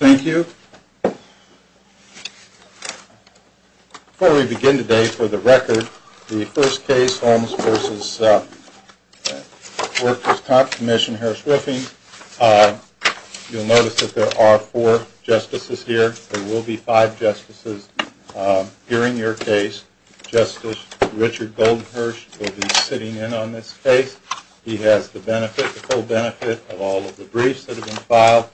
Thank you. Before we begin today, for the record, the first case, Holmes v. Workers' Compensation Commission, Harris-Whiffing, you'll notice that there are four justices here, there will be five justices here in your case. Justice Richard Goldenhersh will be sitting in on this case. He has the benefit, the full benefit, of all of the briefs that have been filed.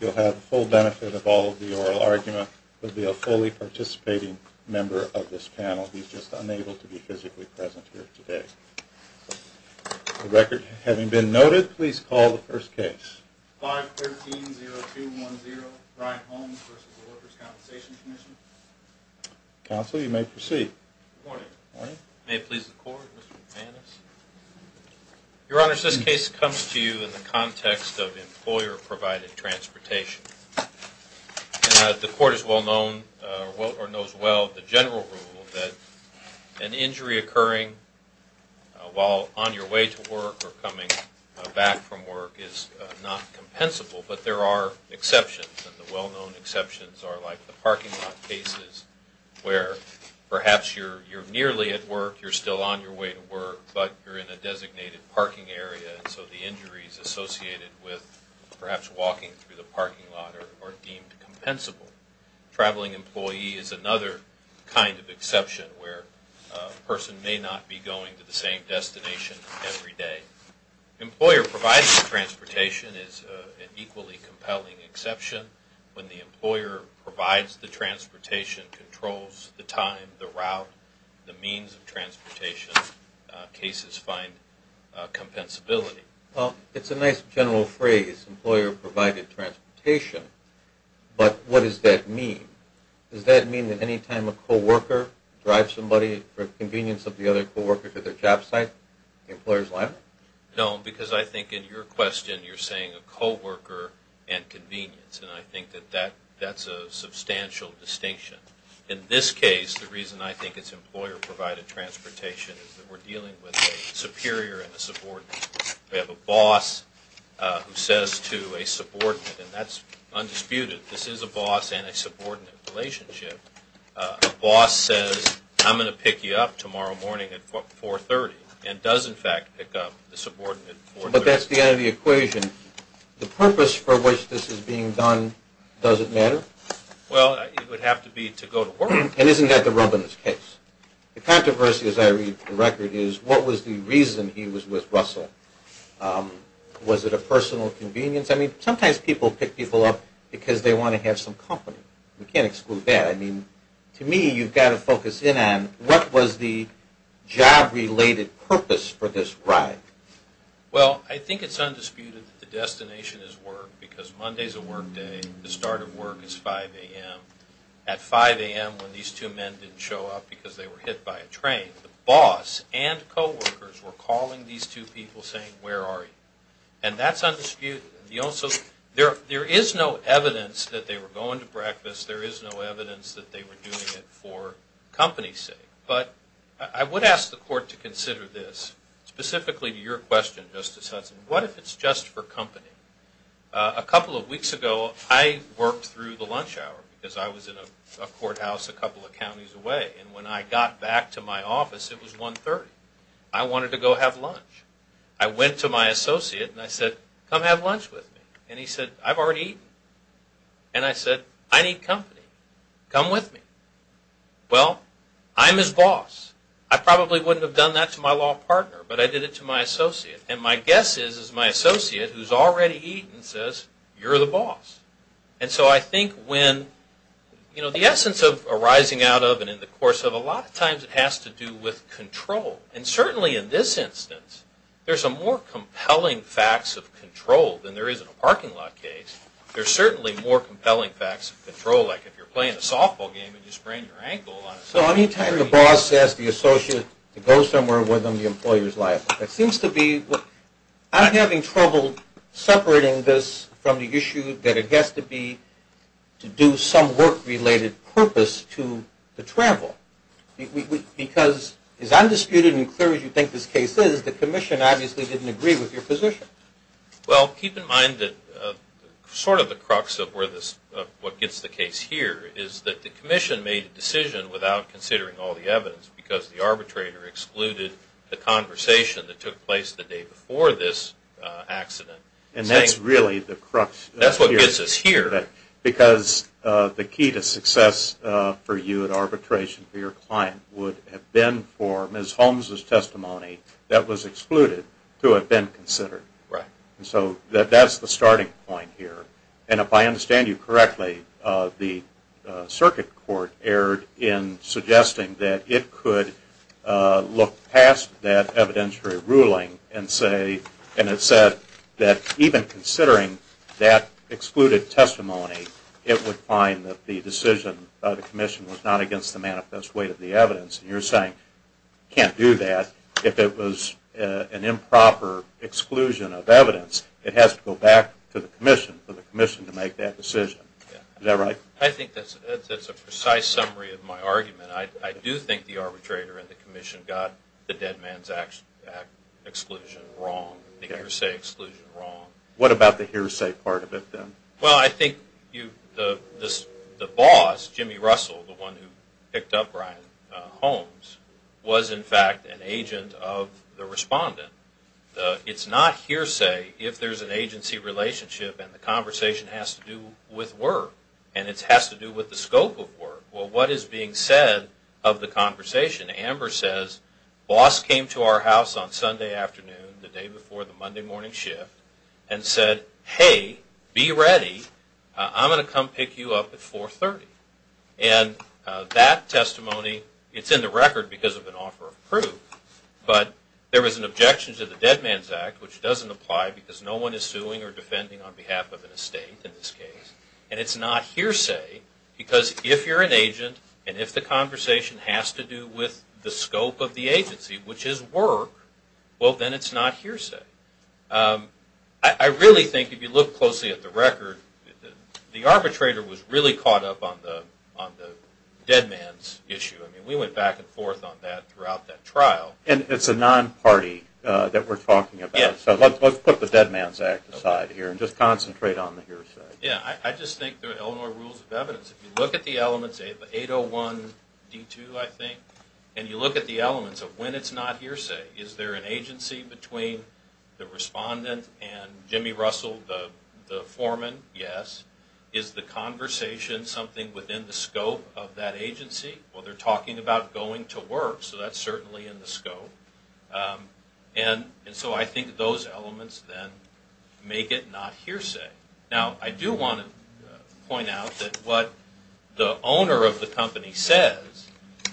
He'll have the full benefit of all of the oral argument. He'll be a fully participating member of this panel. He's just unable to be physically present here today. For the record, having been noted, please call the first case. 5-13-0-2-1-0, Brian Holmes v. Workers' Compensation Commission. Counsel, you may proceed. Good morning. May it please the Court, Mr. McManus. Your Honors, this case comes to you in the context of employer-provided transportation. The Court is well known, or knows well, the general rule that an injury occurring while on your way to work or coming back from work is not compensable, but there are exceptions. And the well-known exceptions are like the parking lot cases where perhaps you're nearly at work, you're still on your way to work, but you're in a designated parking area and so the injuries associated with perhaps walking through the parking lot are deemed compensable. Traveling employee is another kind of exception where a person may not be going to the same destination every day. Employer-provided transportation is an equally compelling exception. When the employer provides the transportation, controls the time, the route, the means of transportation, cases find compensability. Well, it's a nice general phrase, employer-provided transportation, but what does that mean? Does that mean that any time a co-worker drives somebody for convenience of the other co-worker to their job site, the employer's liable? No, because I think in your question you're saying a co-worker and convenience, and I think that that's a substantial distinction. In this case, the reason I think it's employer-provided transportation is that we're dealing with a superior and a subordinate. We have a boss who says to a subordinate, and that's undisputed. This is a boss and a subordinate relationship. A boss says, I'm going to pick you up tomorrow morning at 4.30 and does in fact pick up the subordinate at 4.30. But that's the end of the equation. The purpose for which this is being done doesn't matter? Well, it would have to be to go to work. And isn't that the Robbins case? The controversy, as I read the record, is what was the reason he was with Russell? Was it a personal convenience? I mean, sometimes people pick people up because they want to have some company. We can't exclude that. I mean, to me, you've got to focus in on what was the job-related purpose for this ride? Well, I think it's undisputed that the destination is work, because Monday's a work day. The start of work is 5 a.m. At 5 a.m., when these two men didn't show up because they were hit by a train, the boss and co-workers were calling these two people saying, where are you? And that's undisputed. There is no evidence that they were going to breakfast. There is no evidence that they were doing it for company's sake. But I would ask the Court to consider this, specifically to your question, Justice Hudson. What if it's just for company? A couple of weeks ago, I worked through the lunch hour because I was in a courthouse a couple of counties away. And when I got back to my office, it was 1.30. I wanted to go have lunch. I went to my associate and I said, come have lunch with me. And he said, I've already eaten. And I said, I need company. Come with me. Well, I'm his boss. I probably wouldn't have done that to my law partner, but I did it to my associate. And my guess is, is my associate, who's already eaten, says, you're the boss. And so I think when, you know, the essence of arising out of and in the course of a lot of times it has to do with control. And certainly in this instance, there's some more compelling facts of control than there is in a parking lot case. There's certainly more compelling facts of control, like if you're playing a softball game and you sprain your ankle on a softball game. So any time the boss asks the associate to go somewhere with him, the employer is liable. It seems to be, I'm having trouble separating this from the issue that it has to be to do some work-related purpose to the travel. Because as undisputed and clear as you think this case is, the commission obviously didn't agree with your position. Well, keep in mind that sort of the crux of what gets the case here is that the commission made a decision without considering all the evidence because the arbitrator excluded the conversation that took place the day before this accident. And that's really the crux. That's what gets us here. Because the key to success for you in arbitration for your client would have been for Ms. Holmes' testimony that was excluded to have been considered. Right. So that's the starting point here. And if I understand you correctly, the circuit court erred in suggesting that it could look past that evidentiary ruling and say, and it said that even considering that excluded testimony, it would find that the decision of the commission was not against the manifest weight of the evidence. And you're saying you can't do that if it was an improper exclusion of evidence. It has to go back to the commission for the commission to make that decision. Is that right? I think that's a precise summary of my argument. I do think the arbitrator and the commission got the Dead Man's Act exclusion wrong, the hearsay exclusion wrong. What about the hearsay part of it then? Well, I think the boss, Jimmy Russell, the one who picked up Brian Holmes, was in fact an agent of the respondent. It's not hearsay if there's an agency relationship and the conversation has to do with work. And it has to do with the scope of work. Well, what is being said of the conversation? Amber says, boss came to our house on Sunday afternoon, the day before the Monday morning shift, and said, hey, be ready. I'm going to come pick you up at 430. And that testimony, it's in the record because of an offer of proof, but there was an objection to the Dead Man's Act, which doesn't apply because no one is suing or defending on behalf of an estate in this case. And it's not hearsay because if you're an agent and if the conversation has to do with the scope of the agency, which is work, well, then it's not hearsay. I really think if you look closely at the record, the arbitrator was really caught up on the Dead Man's issue. I mean, we went back and forth on that throughout that trial. And it's a non-party that we're talking about. So let's put the Dead Man's Act aside here and just concentrate on the hearsay. Yeah, I just think there are Illinois rules of evidence. If you look at the elements, 801D2, I think, and you look at the elements of when it's not hearsay, is there an agency between the respondent and Jimmy Russell, the foreman? Yes. Is the conversation something within the scope of that agency? Well, they're talking about going to work, so that's certainly in the scope. And so I think those elements then make it not hearsay. Now, I do want to point out that what the owner of the company says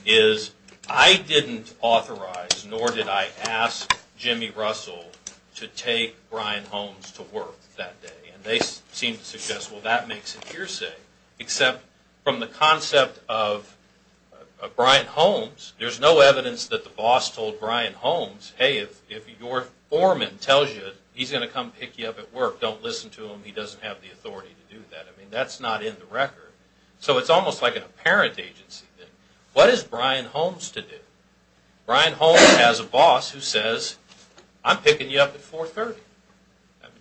is, I didn't authorize nor did I ask Jimmy Russell to take Brian Holmes to work that day. And they seem to suggest, well, that makes it hearsay, except from the concept of Brian Holmes, there's no evidence that the boss told Brian Holmes, hey, if your foreman tells you he's going to come pick you up at work, don't listen to him, he doesn't have the authority to do that. I mean, that's not in the record. So it's almost like an apparent agency thing. What is Brian Holmes to do? Brian Holmes has a boss who says, I'm picking you up at 430.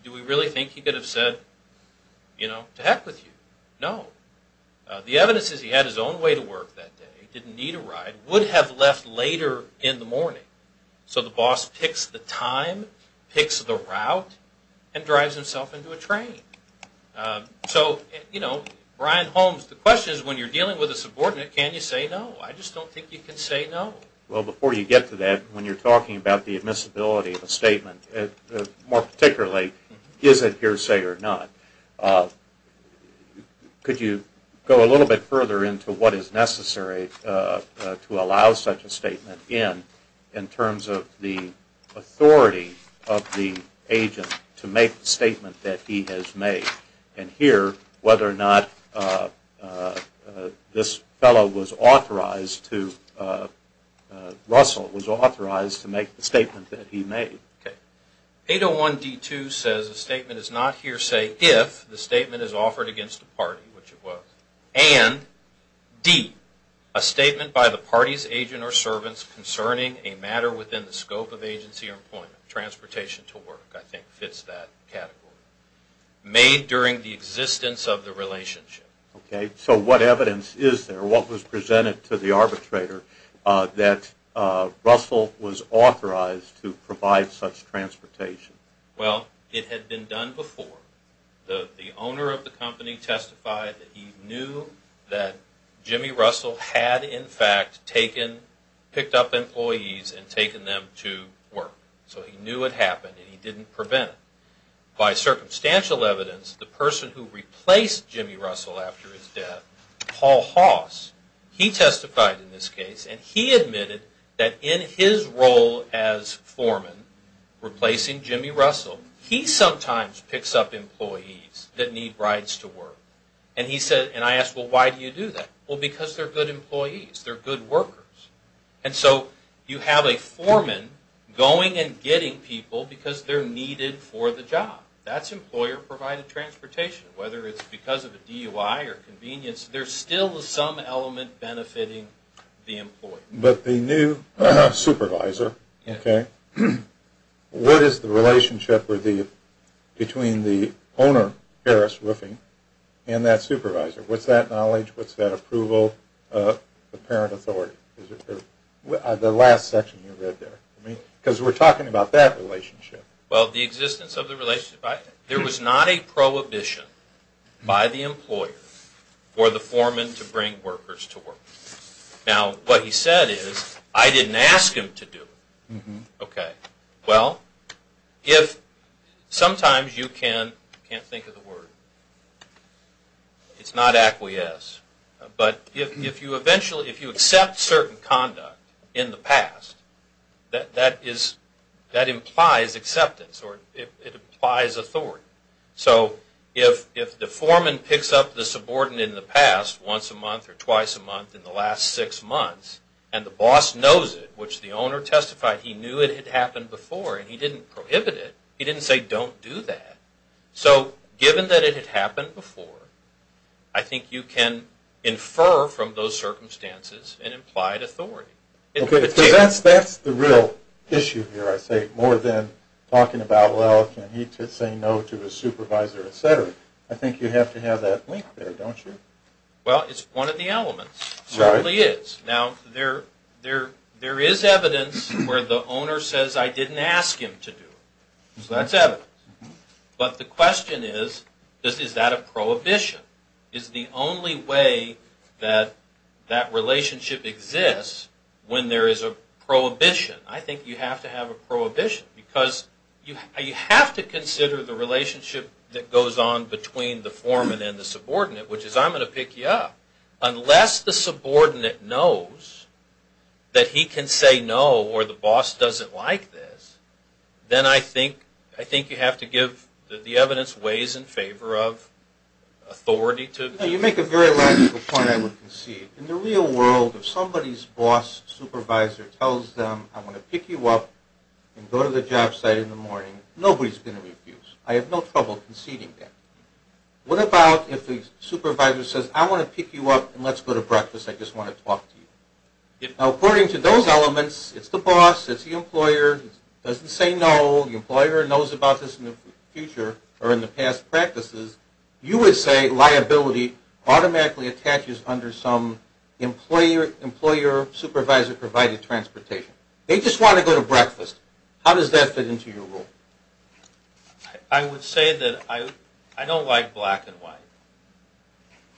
Do we really think he could have said, you know, to heck with you? No. The evidence is he had his own way to work that day, didn't need a ride, would have left later in the morning. So the boss picks the time, picks the route, and drives himself into a train. So, you know, Brian Holmes, the question is when you're dealing with a subordinate, can you say no? I just don't think you can say no. Well, before you get to that, when you're talking about the admissibility of a statement, more particularly, is it hearsay or not, could you go a little bit further into what is necessary to allow such a statement in, in terms of the authority of the agent to make the statement that he has made, and here, whether or not this fellow was authorized to, Russell was authorized to make the statement that he made. 801D2 says a statement is not hearsay if the statement is offered against a party, which it was, and D, a statement by the party's agent or servants concerning a matter within the scope of agency or employment, transportation to work, I think fits that category, made during the existence of the relationship. Okay, so what evidence is there? Or what was presented to the arbitrator that Russell was authorized to provide such transportation? Well, it had been done before. The owner of the company testified that he knew that Jimmy Russell had, in fact, taken, picked up employees and taken them to work. So he knew it happened and he didn't prevent it. By circumstantial evidence, the person who replaced Jimmy Russell after his death, Paul Hoss, he testified in this case and he admitted that in his role as foreman replacing Jimmy Russell, he sometimes picks up employees that need rides to work. And he said, and I asked, well, why do you do that? Well, because they're good employees. They're good workers. And so you have a foreman going and getting people because they're needed for the job. That's employer-provided transportation. Whether it's because of a DUI or convenience, there's still some element benefiting the employee. But the new supervisor, okay, what is the relationship between the owner, Harris Riffing, and that supervisor? What's that knowledge? What's that approval? The parent authority. The last section you read there. Because we're talking about that relationship. Well, the existence of the relationship. There was not a prohibition by the employer for the foreman to bring workers to work. Now, what he said is, I didn't ask him to do it. Okay. Well, if sometimes you can't think of the word. It's not acquiesce. But if you eventually, if you accept certain conduct in the past, that implies acceptance or it implies authority. So if the foreman picks up the subordinate in the past, once a month or twice a month in the last six months, and the boss knows it, which the owner testified he knew it had happened before and he didn't prohibit it, he didn't say don't do that. So given that it had happened before, I think you can infer from those circumstances an implied authority. Okay. Because that's the real issue here, I say, more than talking about, well, can he say no to his supervisor, et cetera. I think you have to have that link there, don't you? Well, it's one of the elements. It certainly is. Now, there is evidence where the owner says I didn't ask him to do it. So that's evidence. But the question is, is that a prohibition? Is the only way that that relationship exists when there is a prohibition? I think you have to have a prohibition because you have to consider the relationship that goes on between the foreman and the subordinate, which is I'm going to pick you up. Unless the subordinate knows that he can say no or the boss doesn't like this, then I think you have to give the evidence ways in favor of authority. You make a very logical point, I would concede. In the real world, if somebody's boss supervisor tells them I'm going to pick you up and go to the job site in the morning, nobody's going to refuse. I have no trouble conceding that. What about if the supervisor says I want to pick you up and let's go to breakfast. I just want to talk to you. Now, according to those elements, it's the boss, it's the employer, it doesn't say no, the employer knows about this in the future or in the past practices. You would say liability automatically attaches under some employer-supervisor provided transportation. They just want to go to breakfast. How does that fit into your rule? I would say that I don't like black and white.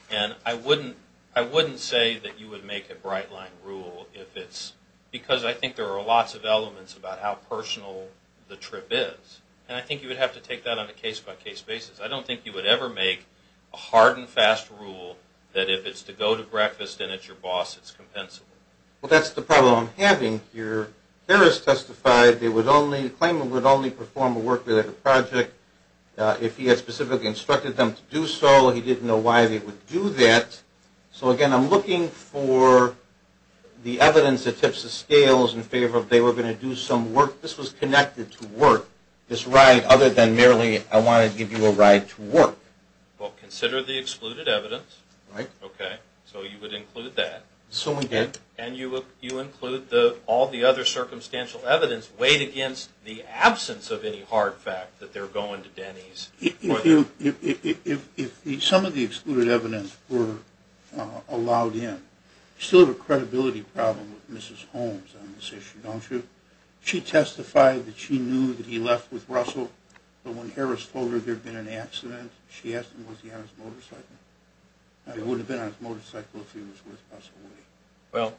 And I wouldn't say that you would make a bright line rule if it's because I think there are lots of elements about how personal the trip is. And I think you would have to take that on a case-by-case basis. I don't think you would ever make a hard and fast rule that if it's to go to breakfast and it's your boss, it's compensable. Well, that's the problem I'm having here. As far as Harris testified, the claimant would only perform a work-related project if he had specifically instructed them to do so. He didn't know why they would do that. So, again, I'm looking for the evidence that tips the scales in favor of they were going to do some work. This was connected to work, this ride, other than merely I want to give you a ride to work. Well, consider the excluded evidence. Right. Okay. So you would include that. So we did. And you include all the other circumstantial evidence weighed against the absence of any hard fact that they're going to Denny's. If some of the excluded evidence were allowed in, you still have a credibility problem with Mrs. Holmes on this issue, don't you? She testified that she knew that he left with Russell, but when Harris told her there had been an accident, she asked him was he on his motorcycle. He would have been on his motorcycle if he was with Russell. Well,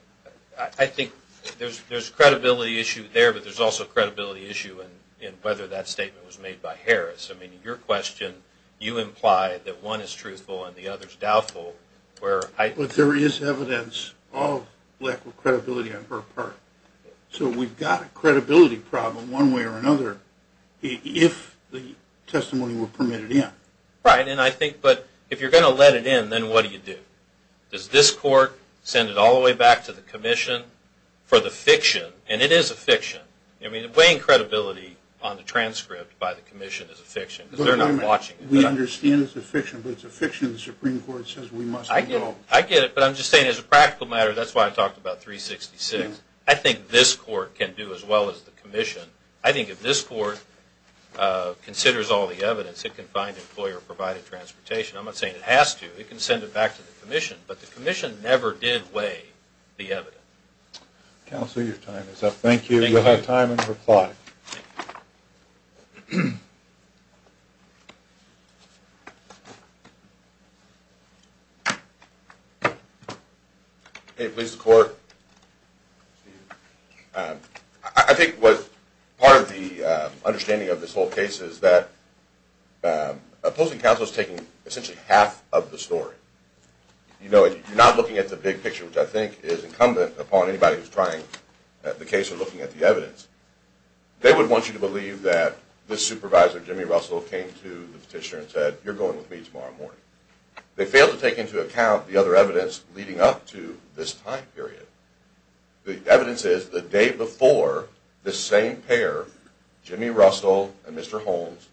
I think there's a credibility issue there, but there's also a credibility issue in whether that statement was made by Harris. I mean, your question, you imply that one is truthful and the other is doubtful. But there is evidence of lack of credibility on her part. So we've got a credibility problem one way or another if the testimony were permitted in. Right. But if you're going to let it in, then what do you do? Does this court send it all the way back to the commission for the fiction? And it is a fiction. I mean, weighing credibility on the transcript by the commission is a fiction because they're not watching it. We understand it's a fiction, but it's a fiction the Supreme Court says we must involve. I get it, but I'm just saying as a practical matter, that's why I talked about 366. I think this court can do as well as the commission. I think if this court considers all the evidence, it can find employer-provided transportation. I'm not saying it has to. It can send it back to the commission, but the commission never did weigh the evidence. Counsel, your time is up. Thank you. You'll have time in reply. Hey, please, the court. I think part of the understanding of this whole case is that opposing counsel is taking essentially half of the story. You're not looking at the big picture, which I think is incumbent upon anybody who's trying the case or looking at the evidence. They would want you to believe that this supervisor, Jimmy Russell, came to the petitioner and said, you're going with me tomorrow morning. They failed to take into account the other evidence leading up to this time period. The evidence is the day before, the same pair, Jimmy Russell and Mr. Holmes,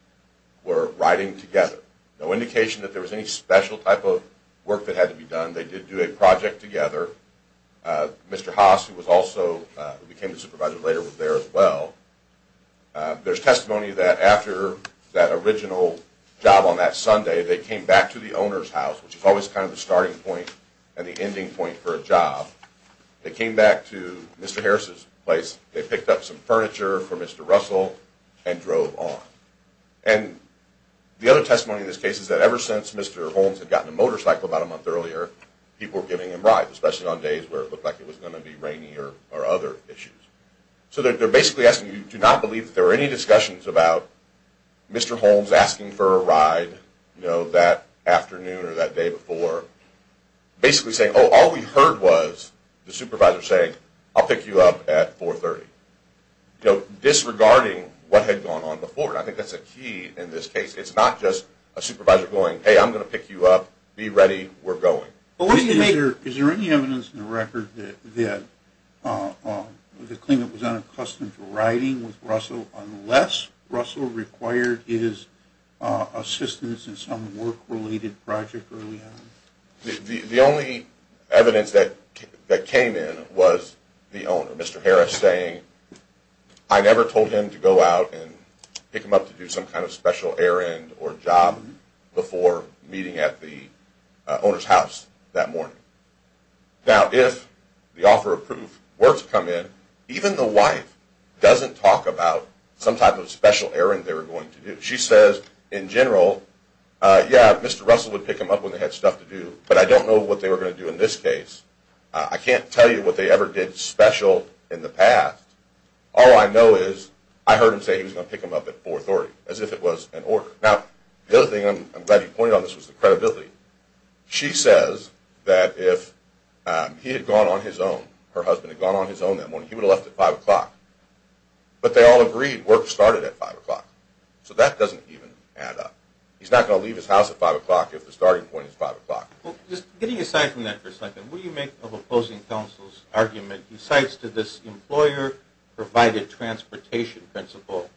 were riding together. No indication that there was any special type of work that had to be done. They did do a project together. Mr. Haas, who became the supervisor later, was there as well. There's testimony that after that original job on that Sunday, they came back to the owner's house, which is always kind of the starting point and the ending point for a job. They came back to Mr. Harris' place. They picked up some furniture for Mr. Russell and drove on. And the other testimony in this case is that ever since Mr. Holmes had gotten a motorcycle about a month earlier, people were giving him rides, especially on days where it looked like it was going to be rainy or other issues. So they're basically asking, do you not believe that there were any discussions about Mr. Holmes asking for a ride, you know, that afternoon or that day before? Basically saying, oh, all we heard was the supervisor saying, I'll pick you up at 4.30. You know, disregarding what had gone on before. I think that's a key in this case. It's not just a supervisor going, hey, I'm going to pick you up. Be ready. We're going. Is there any evidence in the record that the claimant was unaccustomed to riding with Russell unless Russell required his assistance in some work-related project early on? The only evidence that came in was the owner, Mr. Harris, saying, I never told him to go out and pick him up to do some kind of special errand or job before meeting at the owner's house that morning. Now, if the offer of proof were to come in, even the wife doesn't talk about some type of special errand they were going to do. She says, in general, yeah, Mr. Russell would pick him up when they had stuff to do, but I don't know what they were going to do in this case. I can't tell you what they ever did special in the past. All I know is I heard him say he was going to pick him up at 4.30, as if it was an order. Now, the other thing I'm glad he pointed out was the credibility. She says that if he had gone on his own, her husband had gone on his own that morning, he would have left at 5 o'clock. But they all agreed work started at 5 o'clock, so that doesn't even add up. He's not going to leave his house at 5 o'clock if the starting point is 5 o'clock. Just getting aside from that for a second, what do you make of opposing counsel's argument? He cites to this employer-provided transportation principle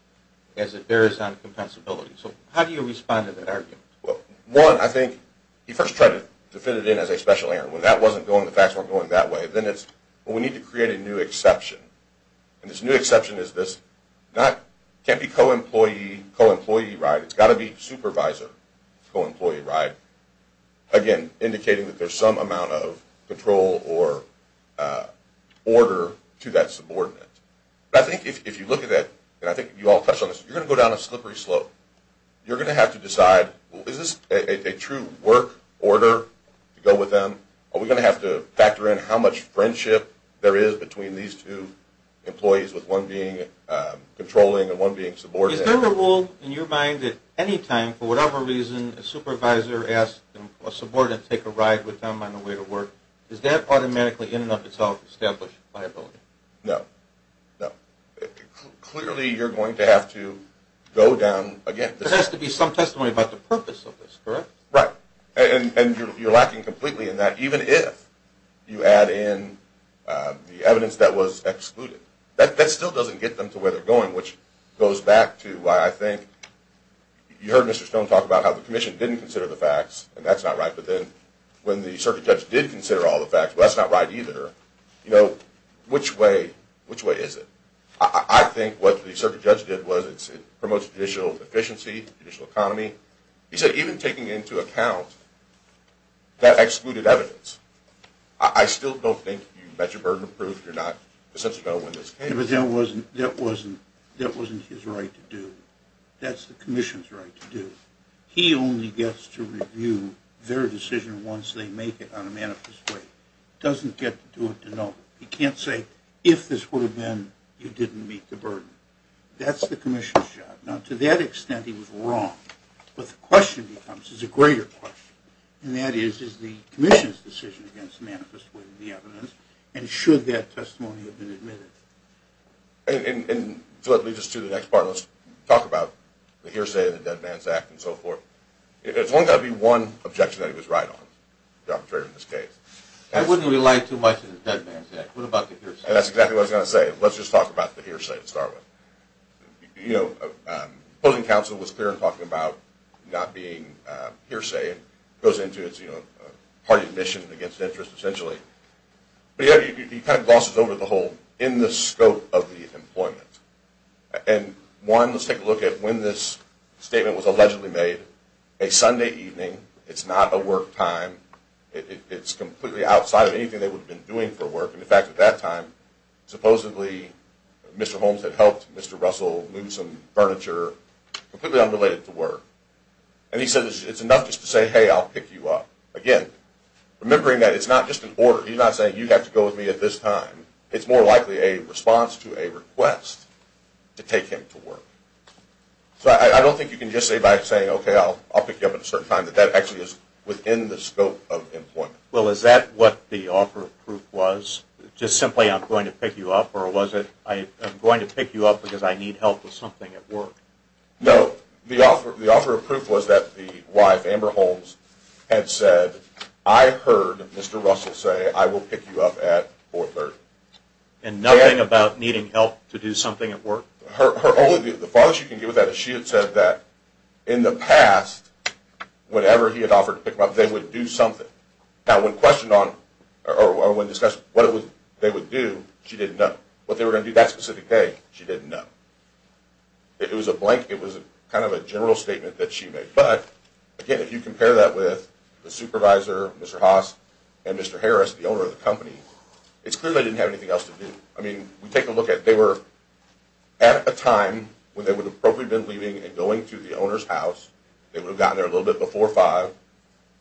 as it bears on compensability. So how do you respond to that argument? Well, one, I think he first tried to fit it in as a special errand. When that wasn't going, the facts weren't going that way. Then it's, well, we need to create a new exception. And this new exception is this can't be co-employee ride. It's got to be supervisor co-employee ride. Again, indicating that there's some amount of control or order to that subordinate. But I think if you look at that, and I think you all touched on this, you're going to go down a slippery slope. You're going to have to decide, well, is this a true work order to go with them? Are we going to have to factor in how much friendship there is between these two employees with one being controlling and one being subordinate? Is there a rule in your mind that any time, for whatever reason, a supervisor asks a subordinate to take a ride with them on the way to work, is that automatically in and of itself established liability? No, no. Clearly you're going to have to go down again. There has to be some testimony about the purpose of this, correct? Right. And you're lacking completely in that, even if you add in the evidence that was excluded. That still doesn't get them to where they're going, which goes back to why I think you heard Mr. Stone talk about how the commission didn't consider the facts, and that's not right, but then when the circuit judge did consider all the facts, well, that's not right either. Which way is it? I think what the circuit judge did was it promotes judicial efficiency, judicial economy. He said even taking into account that excluded evidence, I still don't think you've met your burden of proof. But that wasn't his right to do. That's the commission's right to do. He only gets to review their decision once they make it on a manifest way. He doesn't get to do it to nobody. He can't say, if this would have been, you didn't meet the burden. That's the commission's job. Now, to that extent, he was wrong. But the question becomes, it's a greater question, and that is, is the commission's decision against manifest way of the evidence, and should that testimony have been admitted? And so that leads us to the next part. Let's talk about the hearsay in the Dead Man's Act and so forth. It's only got to be one objection that he was right on, the arbitrator in this case. I wouldn't rely too much on the Dead Man's Act. What about the hearsay? That's exactly what I was going to say. Let's just talk about the hearsay to start with. You know, opposing counsel was clear in talking about not being hearsay. It goes into it's, you know, hard admission against interest, essentially. But he kind of glosses over the whole, in the scope of the employment. And one, let's take a look at when this statement was allegedly made. A Sunday evening, it's not a work time. It's completely outside of anything they would have been doing for work. In fact, at that time, supposedly Mr. Holmes had helped Mr. Russell move some furniture, completely unrelated to work. And he said, it's enough just to say, hey, I'll pick you up. Again, remembering that it's not just an order. He's not saying, you have to go with me at this time. It's more likely a response to a request to take him to work. So I don't think you can just say by saying, okay, I'll pick you up at a certain time, that that actually is within the scope of employment. Well, is that what the offer of proof was? Just simply, I'm going to pick you up? Or was it, I'm going to pick you up because I need help with something at work? No. The offer of proof was that the wife, Amber Holmes, had said, I heard Mr. Russell say, I will pick you up at 430. And nothing about needing help to do something at work? The farthest you can get with that is she had said that in the past, whenever he had offered to pick them up, they would do something. Now, when questioned on, or when discussed what they would do, she didn't know. What they were going to do that specific day, she didn't know. It was a blank, it was kind of a general statement that she made. But, again, if you compare that with the supervisor, Mr. Haas, and Mr. Harris, the owner of the company, it's clear they didn't have anything else to do. I mean, take a look at, they were at a time when they would have probably been leaving and going to the owner's house. They would have gotten there a little bit before 5.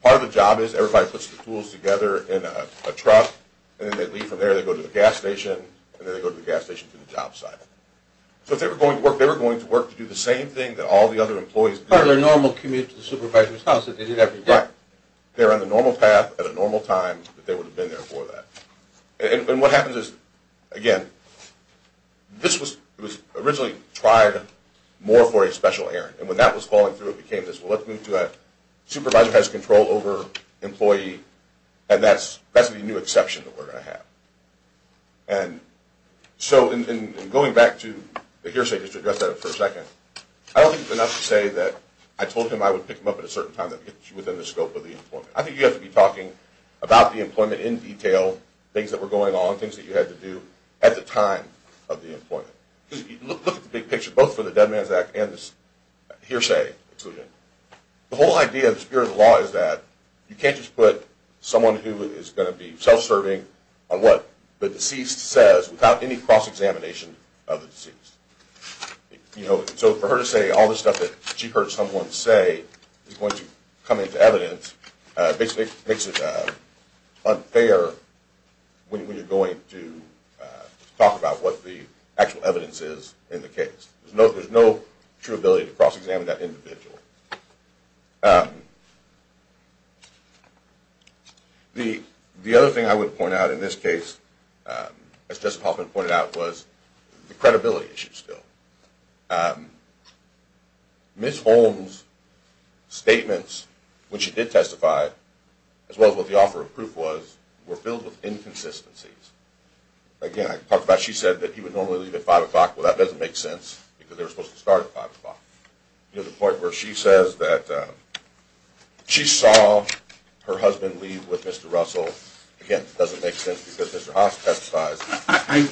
Part of the job is everybody puts the tools together in a truck, and then they leave from there, they go to the gas station, and then they go to the gas station to the job site. So if they were going to work, they were going to work to do the same thing that all the other employees did. Or their normal commute to the supervisor's house that they did every day. Right. They were on the normal path at a normal time that they would have been there for that. And what happens is, again, this was originally tried more for a special errand. And when that was falling through, it became this, well, let's move to a supervisor has control over employee, and that's the new exception that we're going to have. And so in going back to the hearsay, just to address that for a second, I don't think it's enough to say that I told him I would pick him up at a certain time that fits within the scope of the employment. I think you have to be talking about the employment in detail, things that were going on, things that you had to do at the time of the employment. Because if you look at the big picture, both for the Dead Man's Act and the hearsay, the whole idea of the spirit of the law is that you can't just put someone who is going to be self-serving on what the deceased says without any cross-examination of the deceased. So for her to say all this stuff that she heard someone say is going to come into evidence, basically makes it unfair when you're going to talk about what the actual evidence is in the case. There's no true ability to cross-examine that individual. The other thing I would point out in this case, as Jessica Hoffman pointed out, was the credibility issue still. Ms. Holmes' statements, which she did testify, as well as what the offer of proof was, were filled with inconsistencies. Again, I talked about she said that he would normally leave at 5 o'clock. Well, that doesn't make sense because they were supposed to start at 5 o'clock. The point where she says that she saw her husband leave with Mr. Russell, again, doesn't make sense because Mr. Hoffman testified.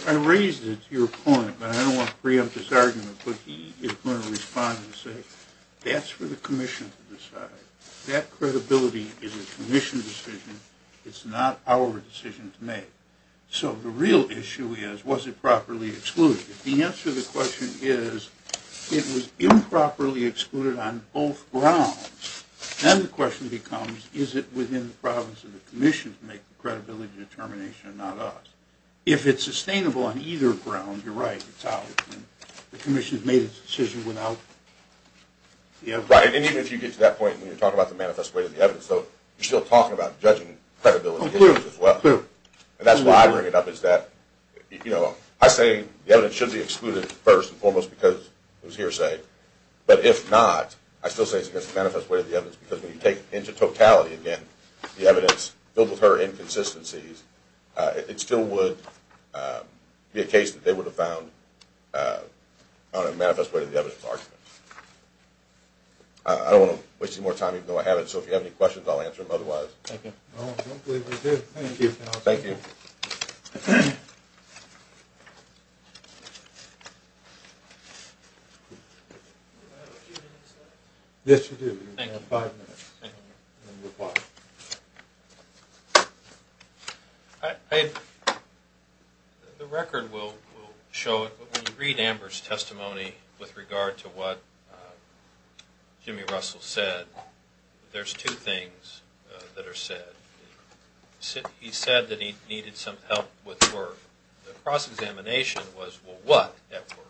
I raised it to your point, but I don't want to free up this argument, but he is going to respond and say that's for the commission to decide. That credibility is a commission decision. It's not our decision to make. So the real issue is, was it properly excluded? The answer to the question is it was improperly excluded on both grounds. Then the question becomes, is it within the province of the commission to make the credibility determination and not us? If it's sustainable on either ground, you're right. It's ours. The commission has made its decision without the evidence. Right, and even if you get to that point, when you talk about the manifest way to the evidence, you're still talking about judging credibility issues as well. That's why I bring it up. I say the evidence should be excluded first and foremost because it was hearsay, but if not, I still say it's against the manifest way to the evidence because when you take into totality, again, the evidence filled with her inconsistencies, it still would be a case that they would have found on a manifest way to the evidence argument. I don't want to waste any more time even though I have it, so if you have any questions, I'll answer them otherwise. Thank you. I don't believe I do. Thank you. Thank you. Do I have a few minutes left? Yes, you do. Thank you. You have five minutes. Thank you. And then you're quiet. The record will show it, but when you read Amber's testimony with regard to what Jimmy Russell said, there's two things that are said. He said that he needed some help with work. The cross-examination was, well, what at work?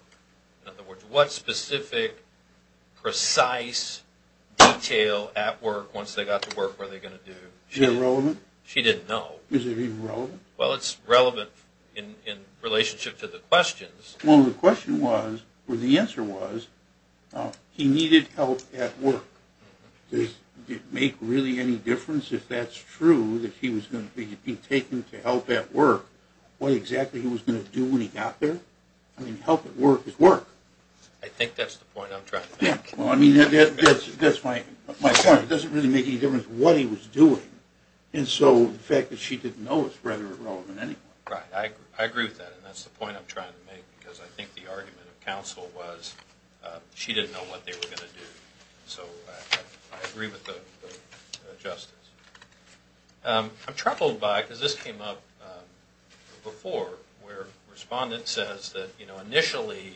In other words, what specific, precise detail at work, once they got to work, were they going to do? Is it relevant? She didn't know. Is it even relevant? Well, it's relevant in relationship to the questions. Well, the question was, or the answer was, he needed help at work. Does it make really any difference if that's true, that he was going to be taken to help at work, what exactly he was going to do when he got there? I mean, help at work is work. I think that's the point I'm trying to make. Well, I mean, that's my point. It doesn't really make any difference what he was doing. And so the fact that she didn't know is rather irrelevant anyway. Right. I agree with that, and that's the point I'm trying to make, because I think the argument of counsel was she didn't know what they were going to do. So I agree with the justice. I'm troubled by, because this came up before, where a respondent says that, you know, initially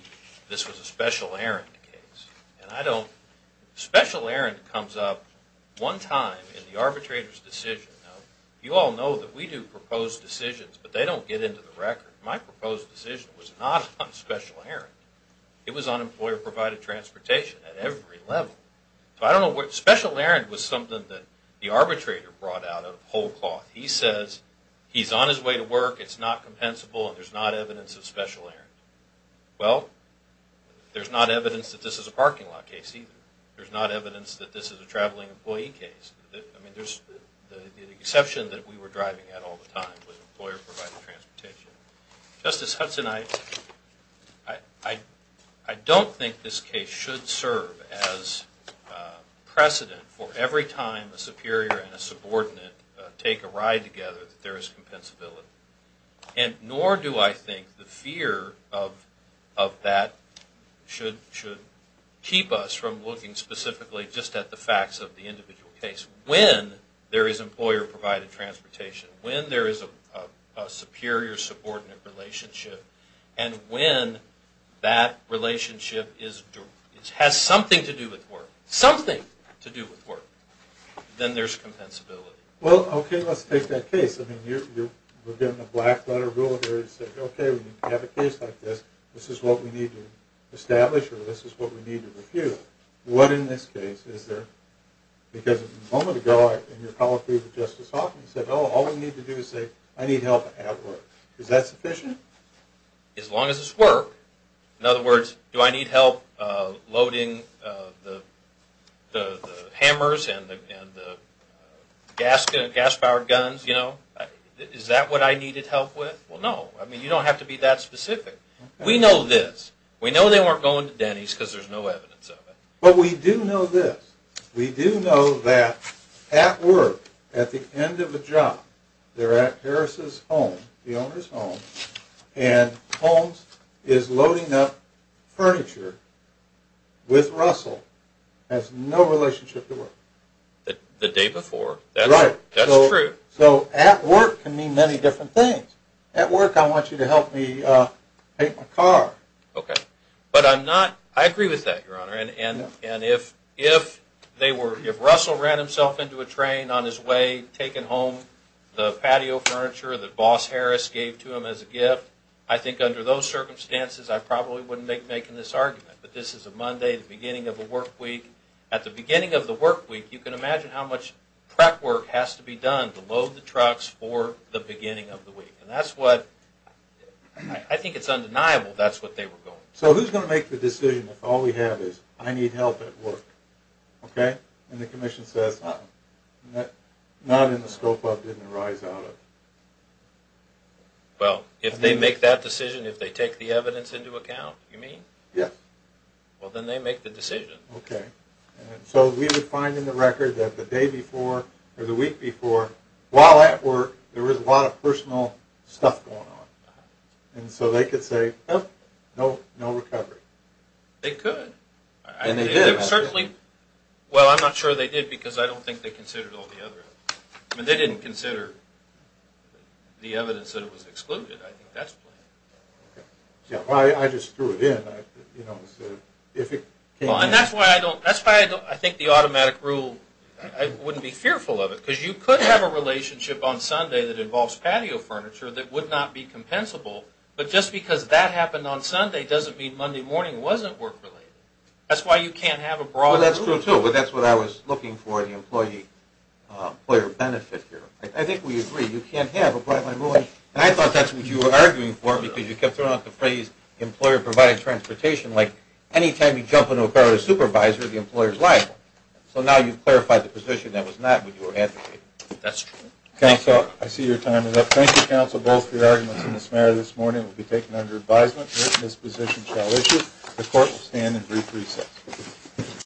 this was a special errand case. And I don't – special errand comes up one time in the arbitrator's decision. You all know that we do propose decisions, but they don't get into the record. My proposed decision was not on special errand. It was on employer-provided transportation at every level. So I don't know what – special errand was something that the arbitrator brought out of whole cloth. He says he's on his way to work, it's not compensable, and there's not evidence of special errand. Well, there's not evidence that this is a parking lot case either. There's not evidence that this is a traveling employee case. The exception that we were driving at all the time was employer-provided transportation. Justice Hudson, I don't think this case should serve as precedent for every time a superior and a subordinate take a ride together that there is compensability. And nor do I think the fear of that should keep us from looking specifically just at the facts of the individual case. When there is employer-provided transportation, when there is a superior-subordinate relationship, and when that relationship has something to do with work, something to do with work, then there's compensability. Well, okay, let's take that case. I mean, we're given a black-letter rule there that says, okay, when you have a case like this, this is what we need to establish or this is what we need to refute. What in this case is there? Because a moment ago in your policy with Justice Hudson, you said, oh, all we need to do is say, I need help at work. Is that sufficient? As long as it's work. In other words, do I need help loading the hammers and the gas-powered guns, you know? Is that what I needed help with? Well, no. I mean, you don't have to be that specific. We know this. But we do know this. We do know that at work, at the end of the job, they're at Harris' home, the owner's home, and Holmes is loading up furniture with Russell, has no relationship to work. The day before. Right. That's true. So at work can mean many different things. At work, I want you to help me paint my car. Okay. But I'm not – I agree with that, Your Honor. And if they were – if Russell ran himself into a train on his way, taking home the patio furniture that Boss Harris gave to him as a gift, I think under those circumstances I probably wouldn't be making this argument. But this is a Monday, the beginning of a work week. At the beginning of the work week, you can imagine how much prep work has to be done to load the trucks for the beginning of the week. And that's what – I think it's undeniable that's what they were doing. So who's going to make the decision if all we have is I need help at work? Okay? And the commission says not in the scope of, didn't arise out of. Well, if they make that decision, if they take the evidence into account, you mean? Yes. Well, then they make the decision. Okay. So we would find in the record that the day before or the week before, while at work there was a lot of personal stuff going on. And so they could say, nope, no recovery. They could. And they did. Well, I'm not sure they did because I don't think they considered all the other evidence. I mean, they didn't consider the evidence that it was excluded. I think that's why. I just threw it in. And that's why I think the automatic rule, I wouldn't be fearful of it, because you could have a relationship on Sunday that involves patio furniture that would not be compensable. But just because that happened on Sunday doesn't mean Monday morning wasn't work-related. That's why you can't have a broad rule. Well, that's true, too. But that's what I was looking for in the employee benefit here. I think we agree. You can't have a broad rule. And I thought that's what you were arguing for because you kept throwing out the phrase employer-provided transportation. Like any time you jump into a car with a supervisor, the employer is liable. So now you've clarified the position that was not what you were advocating. That's true. Counselor, I see your time is up. Thank you, Counsel, both for your arguments. And this matter this morning will be taken under advisement. This position shall issue. The court will stand in brief recess.